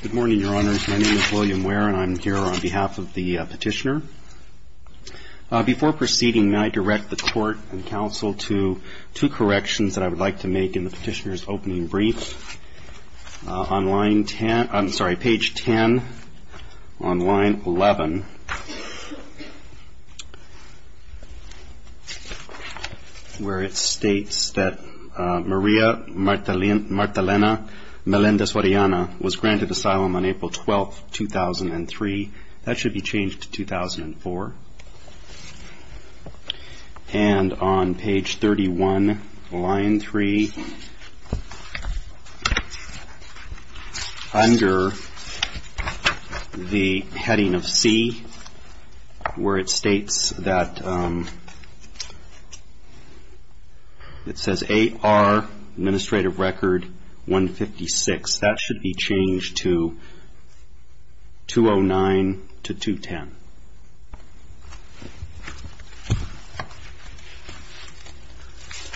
Good morning, Your Honors. My name is William Ware and I'm here on behalf of the petitioner. Before proceeding, may I direct the court and counsel to two corrections that I would like to make in the petitioner's opening brief. On page 10 on line 11 where it states that Maria Martelena Melendez-Orellana was granted asylum on April 12, 2003. That should be changed to 2004. And on page 31, line 3, under the heading of C where it states that it says AR Administrative Record 156. That should be changed to 209 to 210.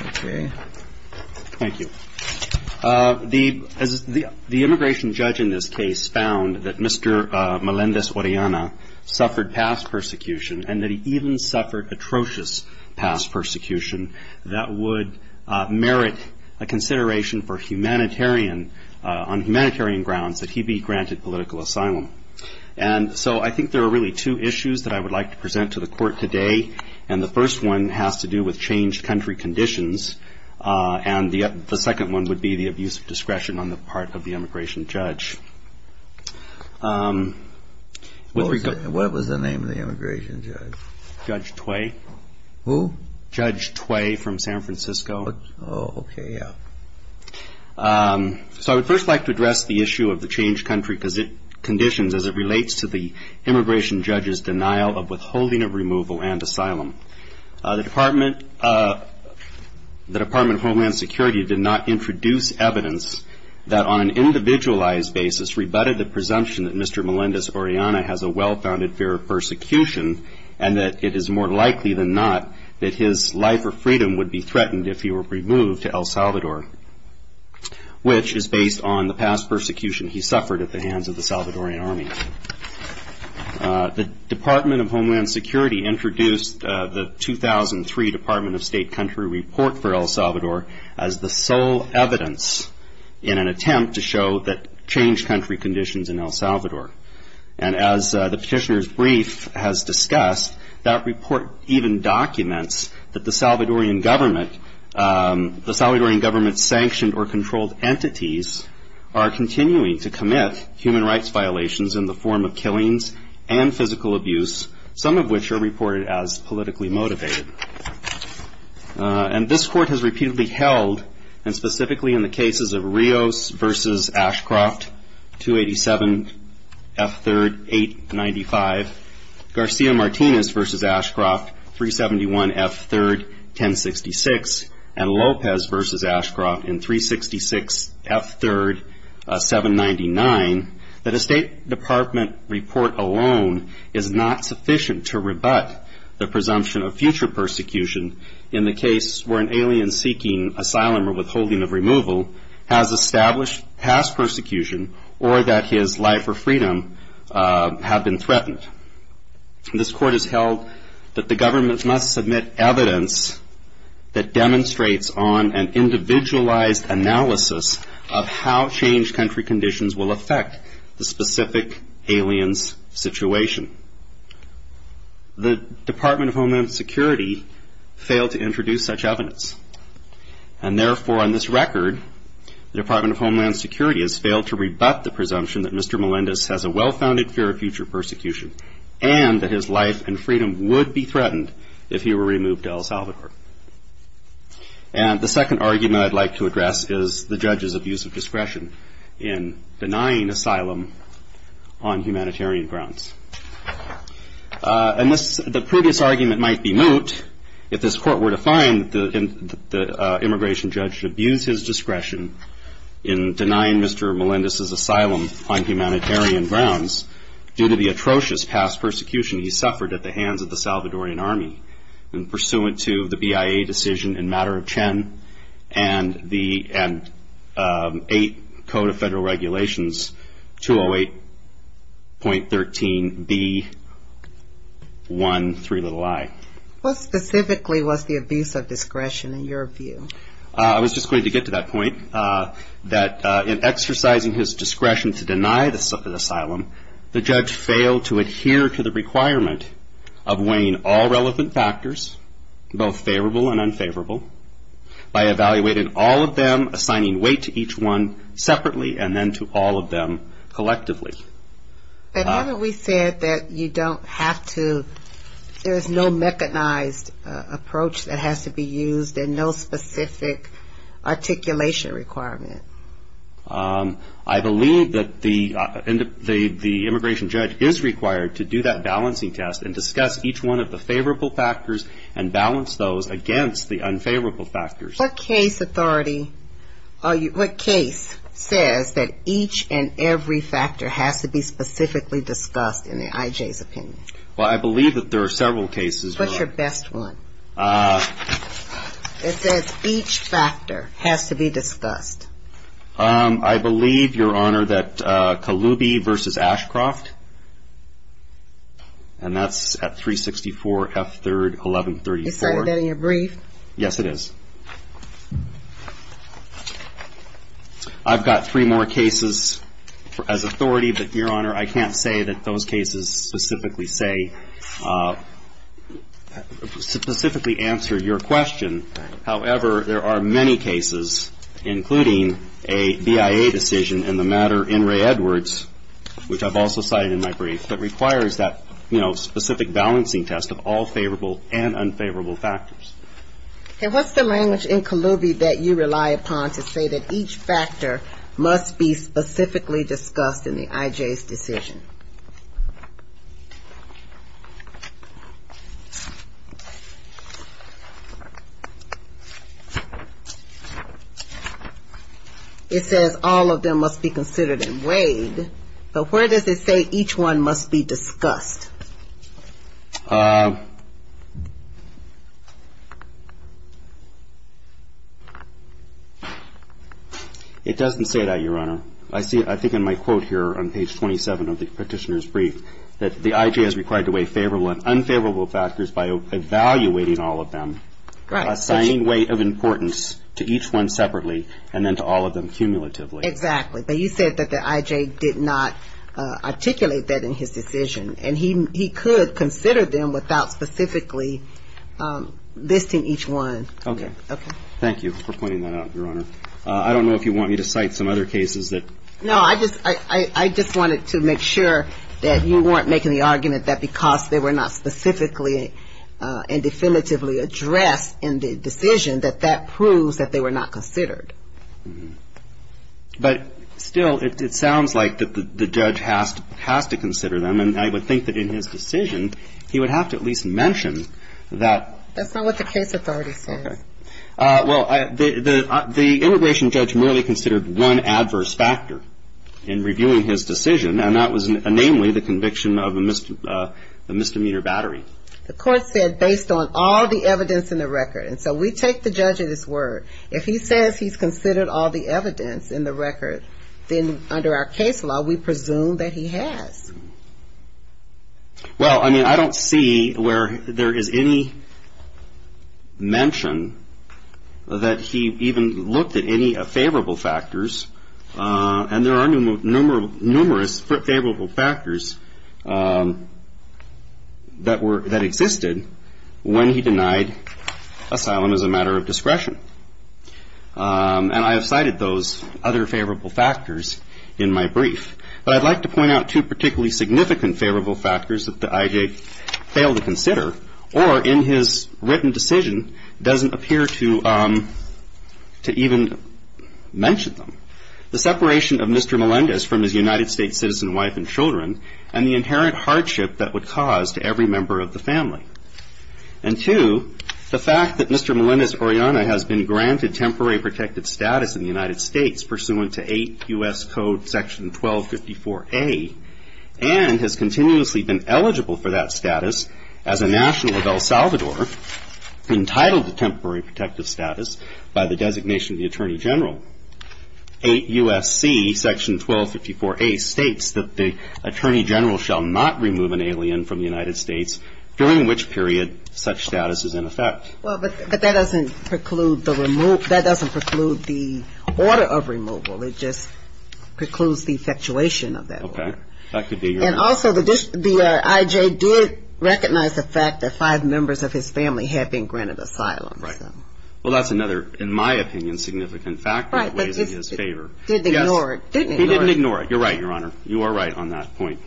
Okay. Thank you. The immigration judge in this case found that Mr. Melendez-Orellana suffered past persecution and that he even suffered atrocious past persecution that would merit a consideration for humanitarian, on humanitarian grounds, that he be granted political asylum. And so I think there are really two issues that I would like to present to the court today. And the first one has to do with changed country conditions. And the second one would be the abuse of discretion on the part of the immigration judge. What was the name of the immigration judge? Judge Tway. Who? Judge Tway from San Francisco. Oh, okay. Yeah. So I would first like to address the issue of the changed country conditions as it relates to the immigration judge's denial of withholding of removal and asylum. The Department of Homeland Security did not introduce evidence that on an individualized basis rebutted the presumption that Mr. Melendez-Orellana's life or freedom would be threatened if he were removed to El Salvador, which is based on the past persecution he suffered at the hands of the Salvadoran Army. The Department of Homeland Security introduced the 2003 Department of State Country Report for El Salvador as the sole evidence in an attempt to show that changed country conditions in El Salvador. And as the petitioner's brief has discussed, that report even documents that the Salvadoran government, the Salvadoran government's sanctioned or controlled entities are continuing to commit human rights violations in the form of killings and physical abuse, some of which are reported as politically motivated. And this court has repeatedly held, and specifically in the cases of Rios v. Ashcroft, 287 F. 3rd, 895, Garcia Martinez v. Ashcroft, 371 F. 3rd, 1066, and Lopez v. Ashcroft in 366 F. 3rd, 799, that a State Department report alone is not sufficient to rebut the presumption of future persecution in the case where an alien seeking asylum or withholding of removal has established past persecution or that his life or freedom have been threatened. This court has held that the government must submit evidence that demonstrates on an individualized analysis of how changed country conditions will affect the specific alien's situation. The Department of Homeland Security failed to introduce such evidence. And therefore, on this record, the Department of Homeland Security has failed to rebut the presumption that Mr. Melendez has a well-founded fear of future persecution and that his life and freedom would be threatened if he were removed to El Salvador. And the second argument I'd like to address is the judge's abuse of discretion in denying asylum on humanitarian grounds. And the previous argument might be moot if this court were to find the immigration judge to abuse his discretion in denying Mr. Melendez's asylum on humanitarian grounds due to the atrocious past persecution he suffered at the hands of the Salvadoran Army and pursuant to the BIA decision in matter of Chen and the 8th Code of Federal Regulations, 208.13b.1.3i. What specifically was the abuse of discretion in your view? I was just going to get to that point, that in exercising his discretion to deny the asylum, the judge failed to adhere to the requirement of weighing all relevant factors, both favorable and unfavorable, by evaluating all of them, assigning weight to each one separately, and then to all of them collectively. And haven't we said that you don't have to, there's no mechanized approach that has to be used and no specific articulation requirement? I believe that the immigration judge is required to do that balancing test and discuss each one of the favorable factors and balance those against the unfavorable factors. What case authority, what case says that each and every factor has to be specifically discussed in the IJ's opinion? Well, I believe that there are several cases. What's your best one? It says each factor has to be discussed. I believe, Your Honor, that Kaloubi v. Ashcroft, and that's at 364 F. 3rd, 1134. Is that in your brief? Yes, it is. I've got three more cases as authority, but, Your Honor, I can't say that those cases specifically say, specifically answer your question. However, there are many cases, including a BIA decision in the matter in Ray Edwards, which I've also cited in my brief, that requires that, you know, specific balancing test of all favorable and unfavorable factors. What's the language in Kaloubi that you rely upon to say that each factor must be specifically discussed in the IJ's decision? It says all of them must be considered and weighed, but where does it say each one must be discussed? It doesn't say that, Your Honor. I see, I think in my quote here on page 27 of the Petitioner's brief, that the IJ is required to weigh favorable and unfavorable factors by evaluating all of them, assigning weight of importance to each one separately, and then to all of them cumulatively. Exactly. But you said that the IJ did not articulate that in his decision, and he could consider them without specifically listing each one. Okay. Thank you for pointing that out, Your Honor. I don't know if you want me to cite some other cases that ---- No, I just wanted to make sure that you weren't making the argument that because they were not specifically and definitively addressed in the decision, that that proves that they were not considered. But still, it sounds like the judge has to consider them, and I would think that in his decision he would have to at least mention that ---- That's not what the case authority says. Okay. Well, the immigration judge merely considered one adverse factor in reviewing his decision, and that was namely the conviction of a misdemeanor battery. The court said based on all the evidence in the record, and so we take the judge at his word. If he says he's considered all the evidence in the record, then under our case law, we presume that he has. Well, I mean, I don't see where there is any mention that he even looked at any favorable factors, and there are numerous favorable factors that existed when he denied asylum as a matter of discretion. And I have cited those other favorable factors in my brief. But I'd like to point out two particularly significant favorable factors that the IJ failed to consider, or in his written decision doesn't appear to even mention them. The separation of Mr. Melendez from his United States citizen wife and children, and the inherent hardship that would cause to every member of the family. And two, the fact that Mr. Melendez-Oriana has been granted temporary protected status in the United States, pursuant to 8 U.S. Code Section 1254A, and has continuously been eligible for that status as a national of El Salvador, entitled to temporary protective status by the designation of the Attorney General. 8 U.S.C. Section 1254A states that the Attorney General shall not remove an alien from the United States, during which period such status is in effect. Well, but that doesn't preclude the order of removal. It just precludes the effectuation of that order. Okay. And also, the IJ did recognize the fact that five members of his family had been granted asylum. Right. Well, that's another, in my opinion, significant factor that weighs in his favor. Right. But he didn't ignore it. He didn't ignore it. You're right, Your Honor. You are right on that point.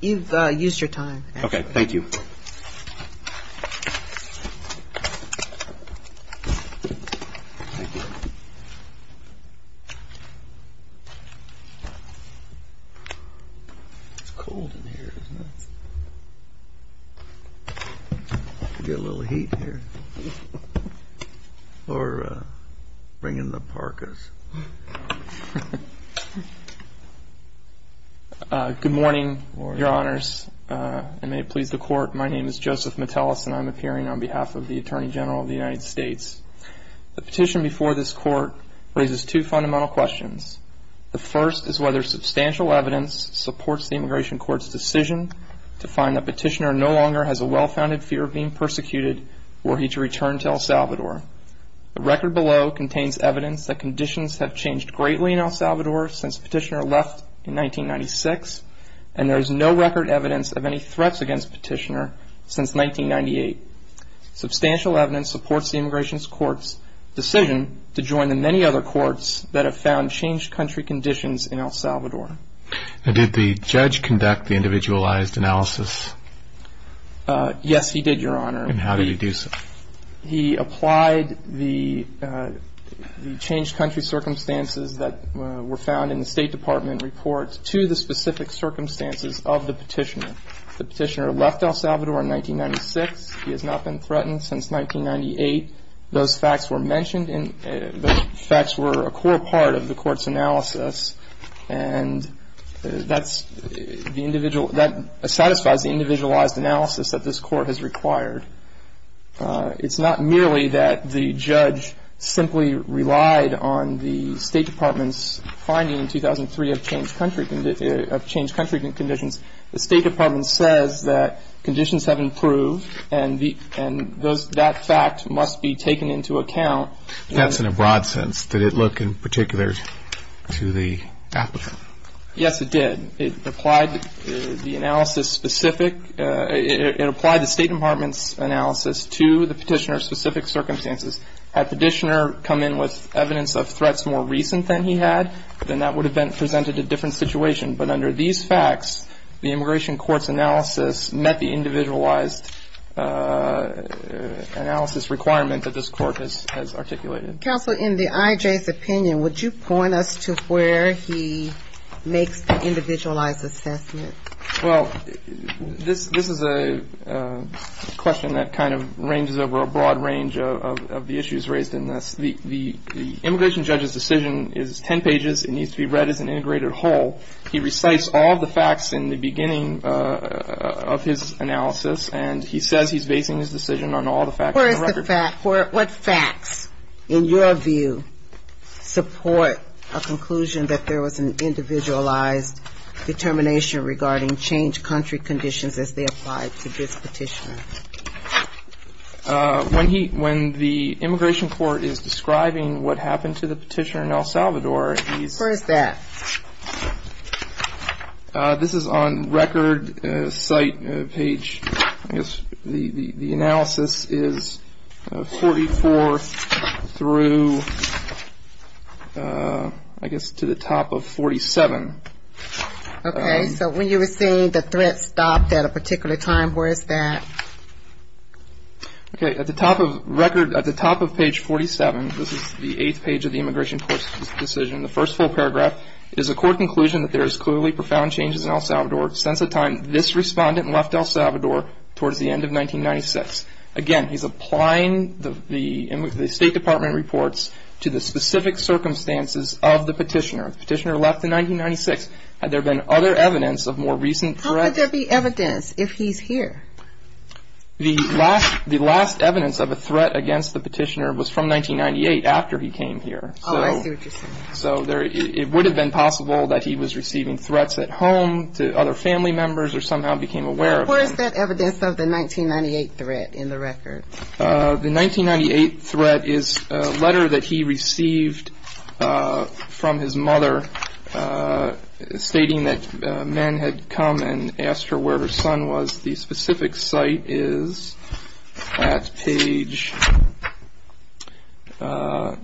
You've used your time. Okay. Thank you. Thank you. It's cold in here, isn't it? Get a little heat here. Or bring in the parkas. Good morning, Your Honors, and may it please the Court. My name is Joseph Metellus, and I'm appearing on behalf of the Attorney General of the United States. The petition before this Court raises two fundamental questions. The first is whether substantial evidence supports the Immigration Court's decision to find that Petitioner no longer has a well-founded fear of being persecuted were he to return to El Salvador. The record below contains evidence that conditions have changed greatly in El Salvador since Petitioner left in 1996, and there is no record evidence of any threats against Petitioner since 1998. Substantial evidence supports the Immigration Court's decision to join the many other courts that have found changed country conditions in El Salvador. Did the judge conduct the individualized analysis? Yes, he did, Your Honor. And how did he do so? He applied the changed country circumstances that were found in the State Department report to the specific circumstances of the Petitioner. The Petitioner left El Salvador in 1996. He has not been threatened since 1998. Those facts were mentioned, and those facts were a core part of the Court's analysis, and that satisfies the individualized analysis that this Court has required. It's not merely that the judge simply relied on the State Department's finding in 2003 of changed country conditions. The State Department says that conditions have improved, and that fact must be taken into account. That's in a broad sense. Did it look in particular to the applicant? Yes, it did. It applied the analysis specific. It applied the State Department's analysis to the Petitioner's specific circumstances. Had Petitioner come in with evidence of threats more recent than he had, then that would have presented a different situation. But under these facts, the Immigration Court's analysis met the individualized analysis requirement that this Court has articulated. Counsel, in the IJ's opinion, would you point us to where he makes the individualized assessment? Well, this is a question that kind of ranges over a broad range of the issues raised in this. The immigration judge's decision is 10 pages. It needs to be read as an integrated whole. He recites all the facts in the beginning of his analysis, and he says he's basing his decision on all the facts on the record. Where is the fact? What facts, in your view, support a conclusion that there was an individualized determination regarding changed country conditions as they applied to this Petitioner? When the Immigration Court is describing what happened to the Petitioner in El Salvador, he's… Where is that? This is on record site page. I guess the analysis is 44 through, I guess, to the top of 47. Okay. So when you were saying the threat stopped at a particular time, where is that? Okay. At the top of record, at the top of page 47, this is the eighth page of the Immigration Court's decision, and the first full paragraph is a court conclusion that there is clearly profound changes in El Salvador since the time this respondent left El Salvador towards the end of 1996. Again, he's applying the State Department reports to the specific circumstances of the Petitioner. The Petitioner left in 1996. Had there been other evidence of more recent threats? How could there be evidence if he's here? The last evidence of a threat against the Petitioner was from 1998, after he came here. Oh, I see what you're saying. So it would have been possible that he was receiving threats at home to other family members or somehow became aware of them. Where is that evidence of the 1998 threat in the record? The 1998 threat is a letter that he received from his mother stating that men had come and asked her where her son was. The specific site is at page, the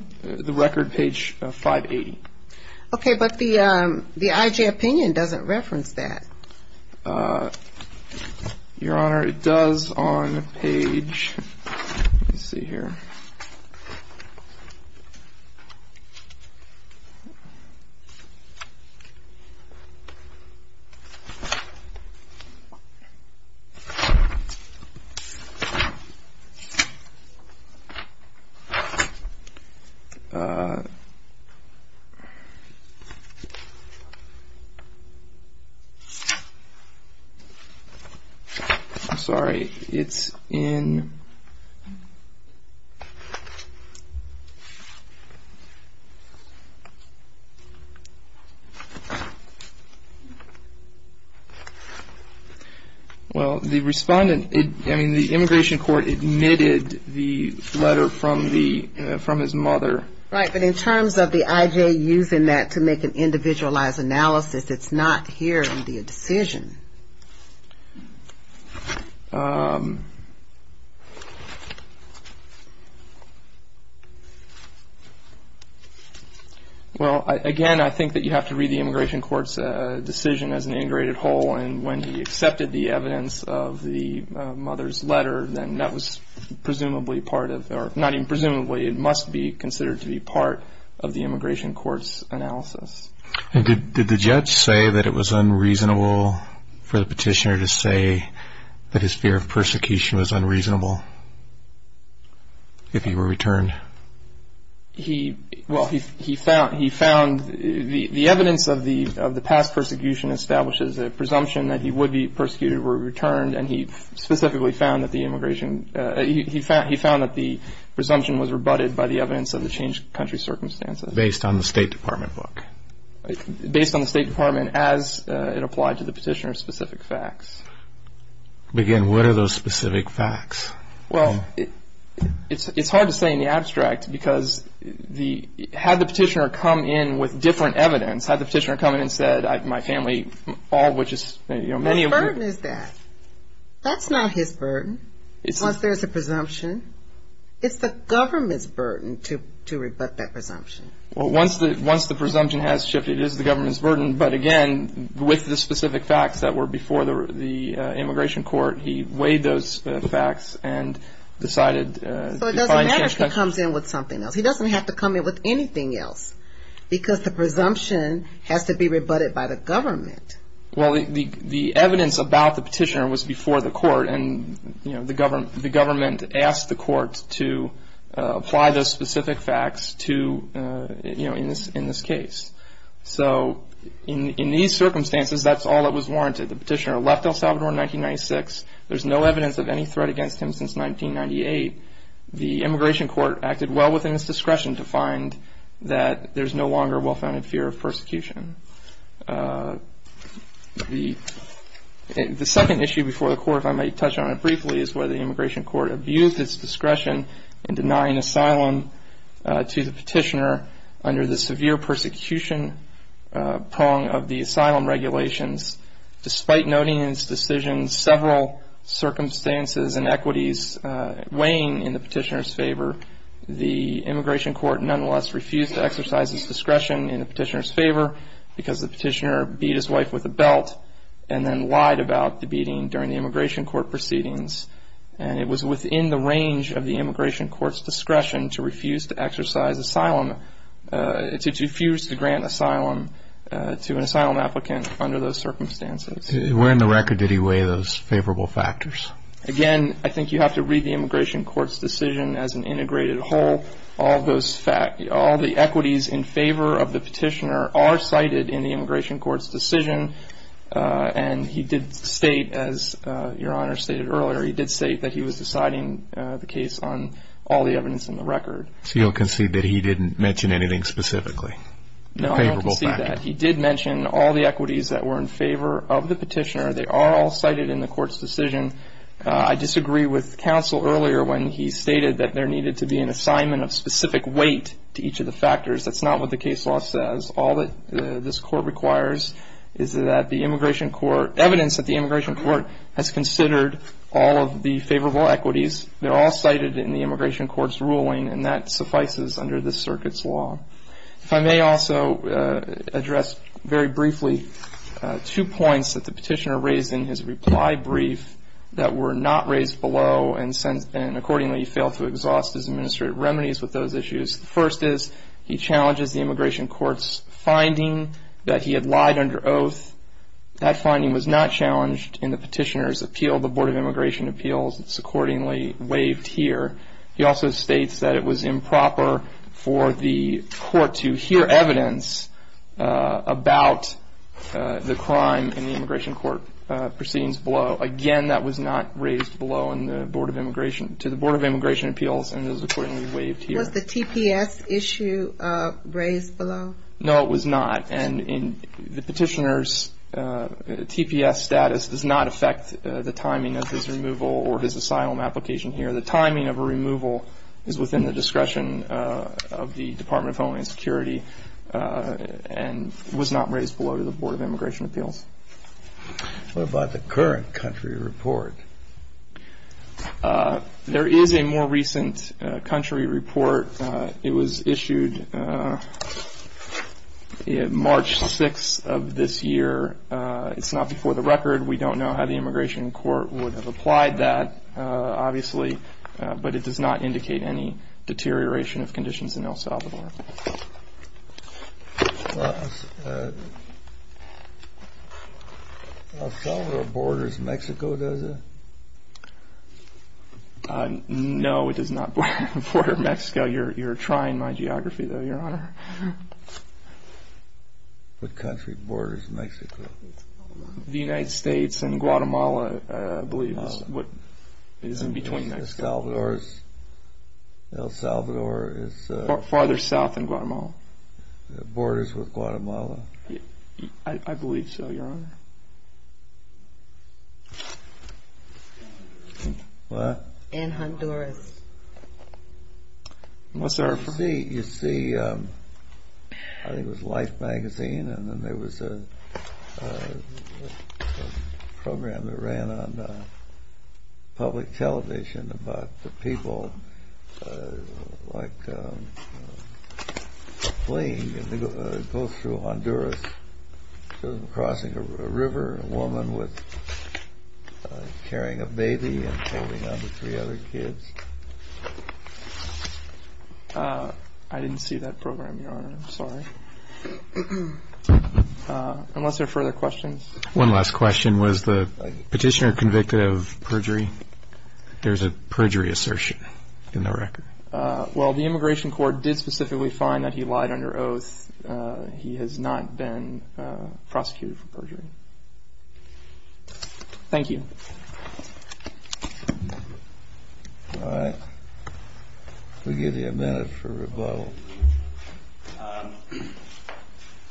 record page 580. Okay, but the IJ opinion doesn't reference that. Your Honor, it does on page, let me see here. I'm sorry, it's in... Well, the respondent, I mean, the immigration court admitted the letter from his mother. Right, but in terms of the IJ using that to make an individualized analysis, it's not here in the decision. Well, again, I think that you have to read the immigration court's decision as an integrated whole, and when he accepted the evidence of the mother's letter, then that was presumably part of, or not even presumably, it must be considered to be part of the immigration court's analysis. Did the judge say that it was unreasonable for the petitioner to say that his fear of persecution was unreasonable if he were returned? Well, he found the evidence of the past persecution establishes a presumption that he would be persecuted were he returned, and he specifically found that the presumption was rebutted by the evidence of the changed country circumstances. Based on the State Department book? Based on the State Department as it applied to the petitioner's specific facts. Again, what are those specific facts? Well, it's hard to say in the abstract, because had the petitioner come in with different evidence, had the petitioner come in and said, my family, all which is... What burden is that? That's not his burden, once there's a presumption. It's the government's burden to rebut that presumption. Well, once the presumption has shifted, it is the government's burden, but again, with the specific facts that were before the immigration court, he weighed those facts and decided... So it doesn't matter if he comes in with something else. He doesn't have to come in with anything else, because the presumption has to be rebutted by the government. Well, the evidence about the petitioner was before the court, and the government asked the court to apply those specific facts in this case. So in these circumstances, that's all that was warranted. The petitioner left El Salvador in 1996. There's no evidence of any threat against him since 1998. The immigration court acted well within its discretion to find that The second issue before the court, if I may touch on it briefly, is whether the immigration court abused its discretion in denying asylum to the petitioner under the severe persecution prong of the asylum regulations. Despite noting in its decision several circumstances and equities weighing in the petitioner's favor, the immigration court nonetheless refused to exercise its discretion in the petitioner's favor because the petitioner beat his wife with a belt and then lied about the beating during the immigration court proceedings. And it was within the range of the immigration court's discretion to refuse to exercise asylum, to refuse to grant asylum to an asylum applicant under those circumstances. Where in the record did he weigh those favorable factors? Again, I think you have to read the immigration court's decision as an integrated whole. All the equities in favor of the petitioner are cited in the immigration court's decision. And he did state, as Your Honor stated earlier, he did state that he was deciding the case on all the evidence in the record. So you'll concede that he didn't mention anything specifically? No, I don't concede that. He did mention all the equities that were in favor of the petitioner. They are all cited in the court's decision. I disagree with counsel earlier when he stated that there needed to be an assignment of specific weight to each of the factors. That's not what the case law says. All that this court requires is that the immigration court, evidence that the immigration court has considered all of the favorable equities, they're all cited in the immigration court's ruling, and that suffices under this circuit's law. If I may also address very briefly two points that the petitioner raised in his reply brief that were not raised below and accordingly he failed to exhaust his administrative remedies with those issues. The first is he challenges the immigration court's finding that he had lied under oath. That finding was not challenged in the petitioner's appeal. The Board of Immigration Appeals, it's accordingly waived here. He also states that it was improper for the court to hear evidence about the crime in the immigration court proceedings below. Again, that was not raised below in the Board of Immigration, to the Board of Immigration Appeals, and it was accordingly waived here. Was the TPS issue raised below? No, it was not. And the petitioner's TPS status does not affect the timing of his removal or his asylum application here. The timing of a removal is within the discretion of the Department of Homeland Security and was not raised below to the Board of Immigration Appeals. What about the current country report? There is a more recent country report. It was issued March 6th of this year. It's not before the record. We don't know how the immigration court would have applied that, obviously, but it does not indicate any deterioration of conditions in El Salvador. El Salvador borders Mexico, does it? No, it does not border Mexico. You're trying my geography, though, Your Honor. What country borders Mexico? The United States and Guatemala, I believe, is in between. El Salvador is... Farther south than Guatemala. Borders with Guatemala. I believe so, Your Honor. What? And Honduras. You see, I think it was Life magazine, and then there was a program that ran on public television about the people, like a plane that goes through Honduras, crossing a river, a woman carrying a baby and holding on to three other kids. I didn't see that program, Your Honor. I'm sorry. Unless there are further questions. One last question. Was the petitioner convicted of perjury? There's a perjury assertion in the record. Well, the immigration court did specifically find that he lied under oath. He has not been prosecuted for perjury. Thank you. All right. We'll give you a minute for rebuttal.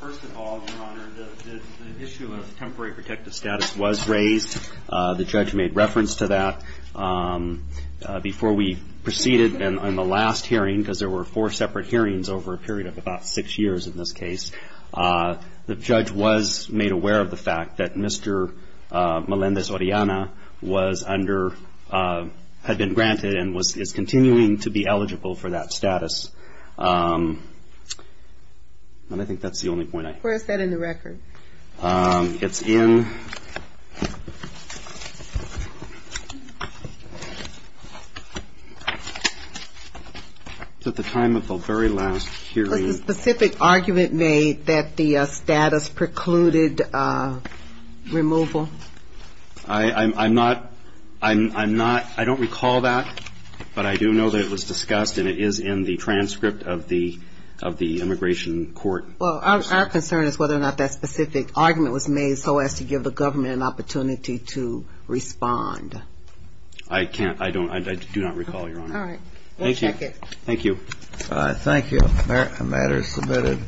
First of all, Your Honor, the issue of temporary protective status was raised. The judge made reference to that. Before we proceeded on the last hearing, because there were four separate hearings over a period of about six years in this case, the judge was made aware of the fact that Mr. Melendez-Orellana was under, had been granted and is continuing to be eligible for that status. And I think that's the only point I have. Where is that in the record? It's in at the time of the very last hearing. Was a specific argument made that the status precluded removal? I'm not, I'm not, I don't recall that, but I do know that it was discussed and it is in the transcript of the immigration court. Well, our concern is whether or not that specific argument was made so as to give the government an opportunity to respond. I can't, I don't, I do not recall, Your Honor. All right. We'll check it. Thank you. Thank you. The matter is submitted.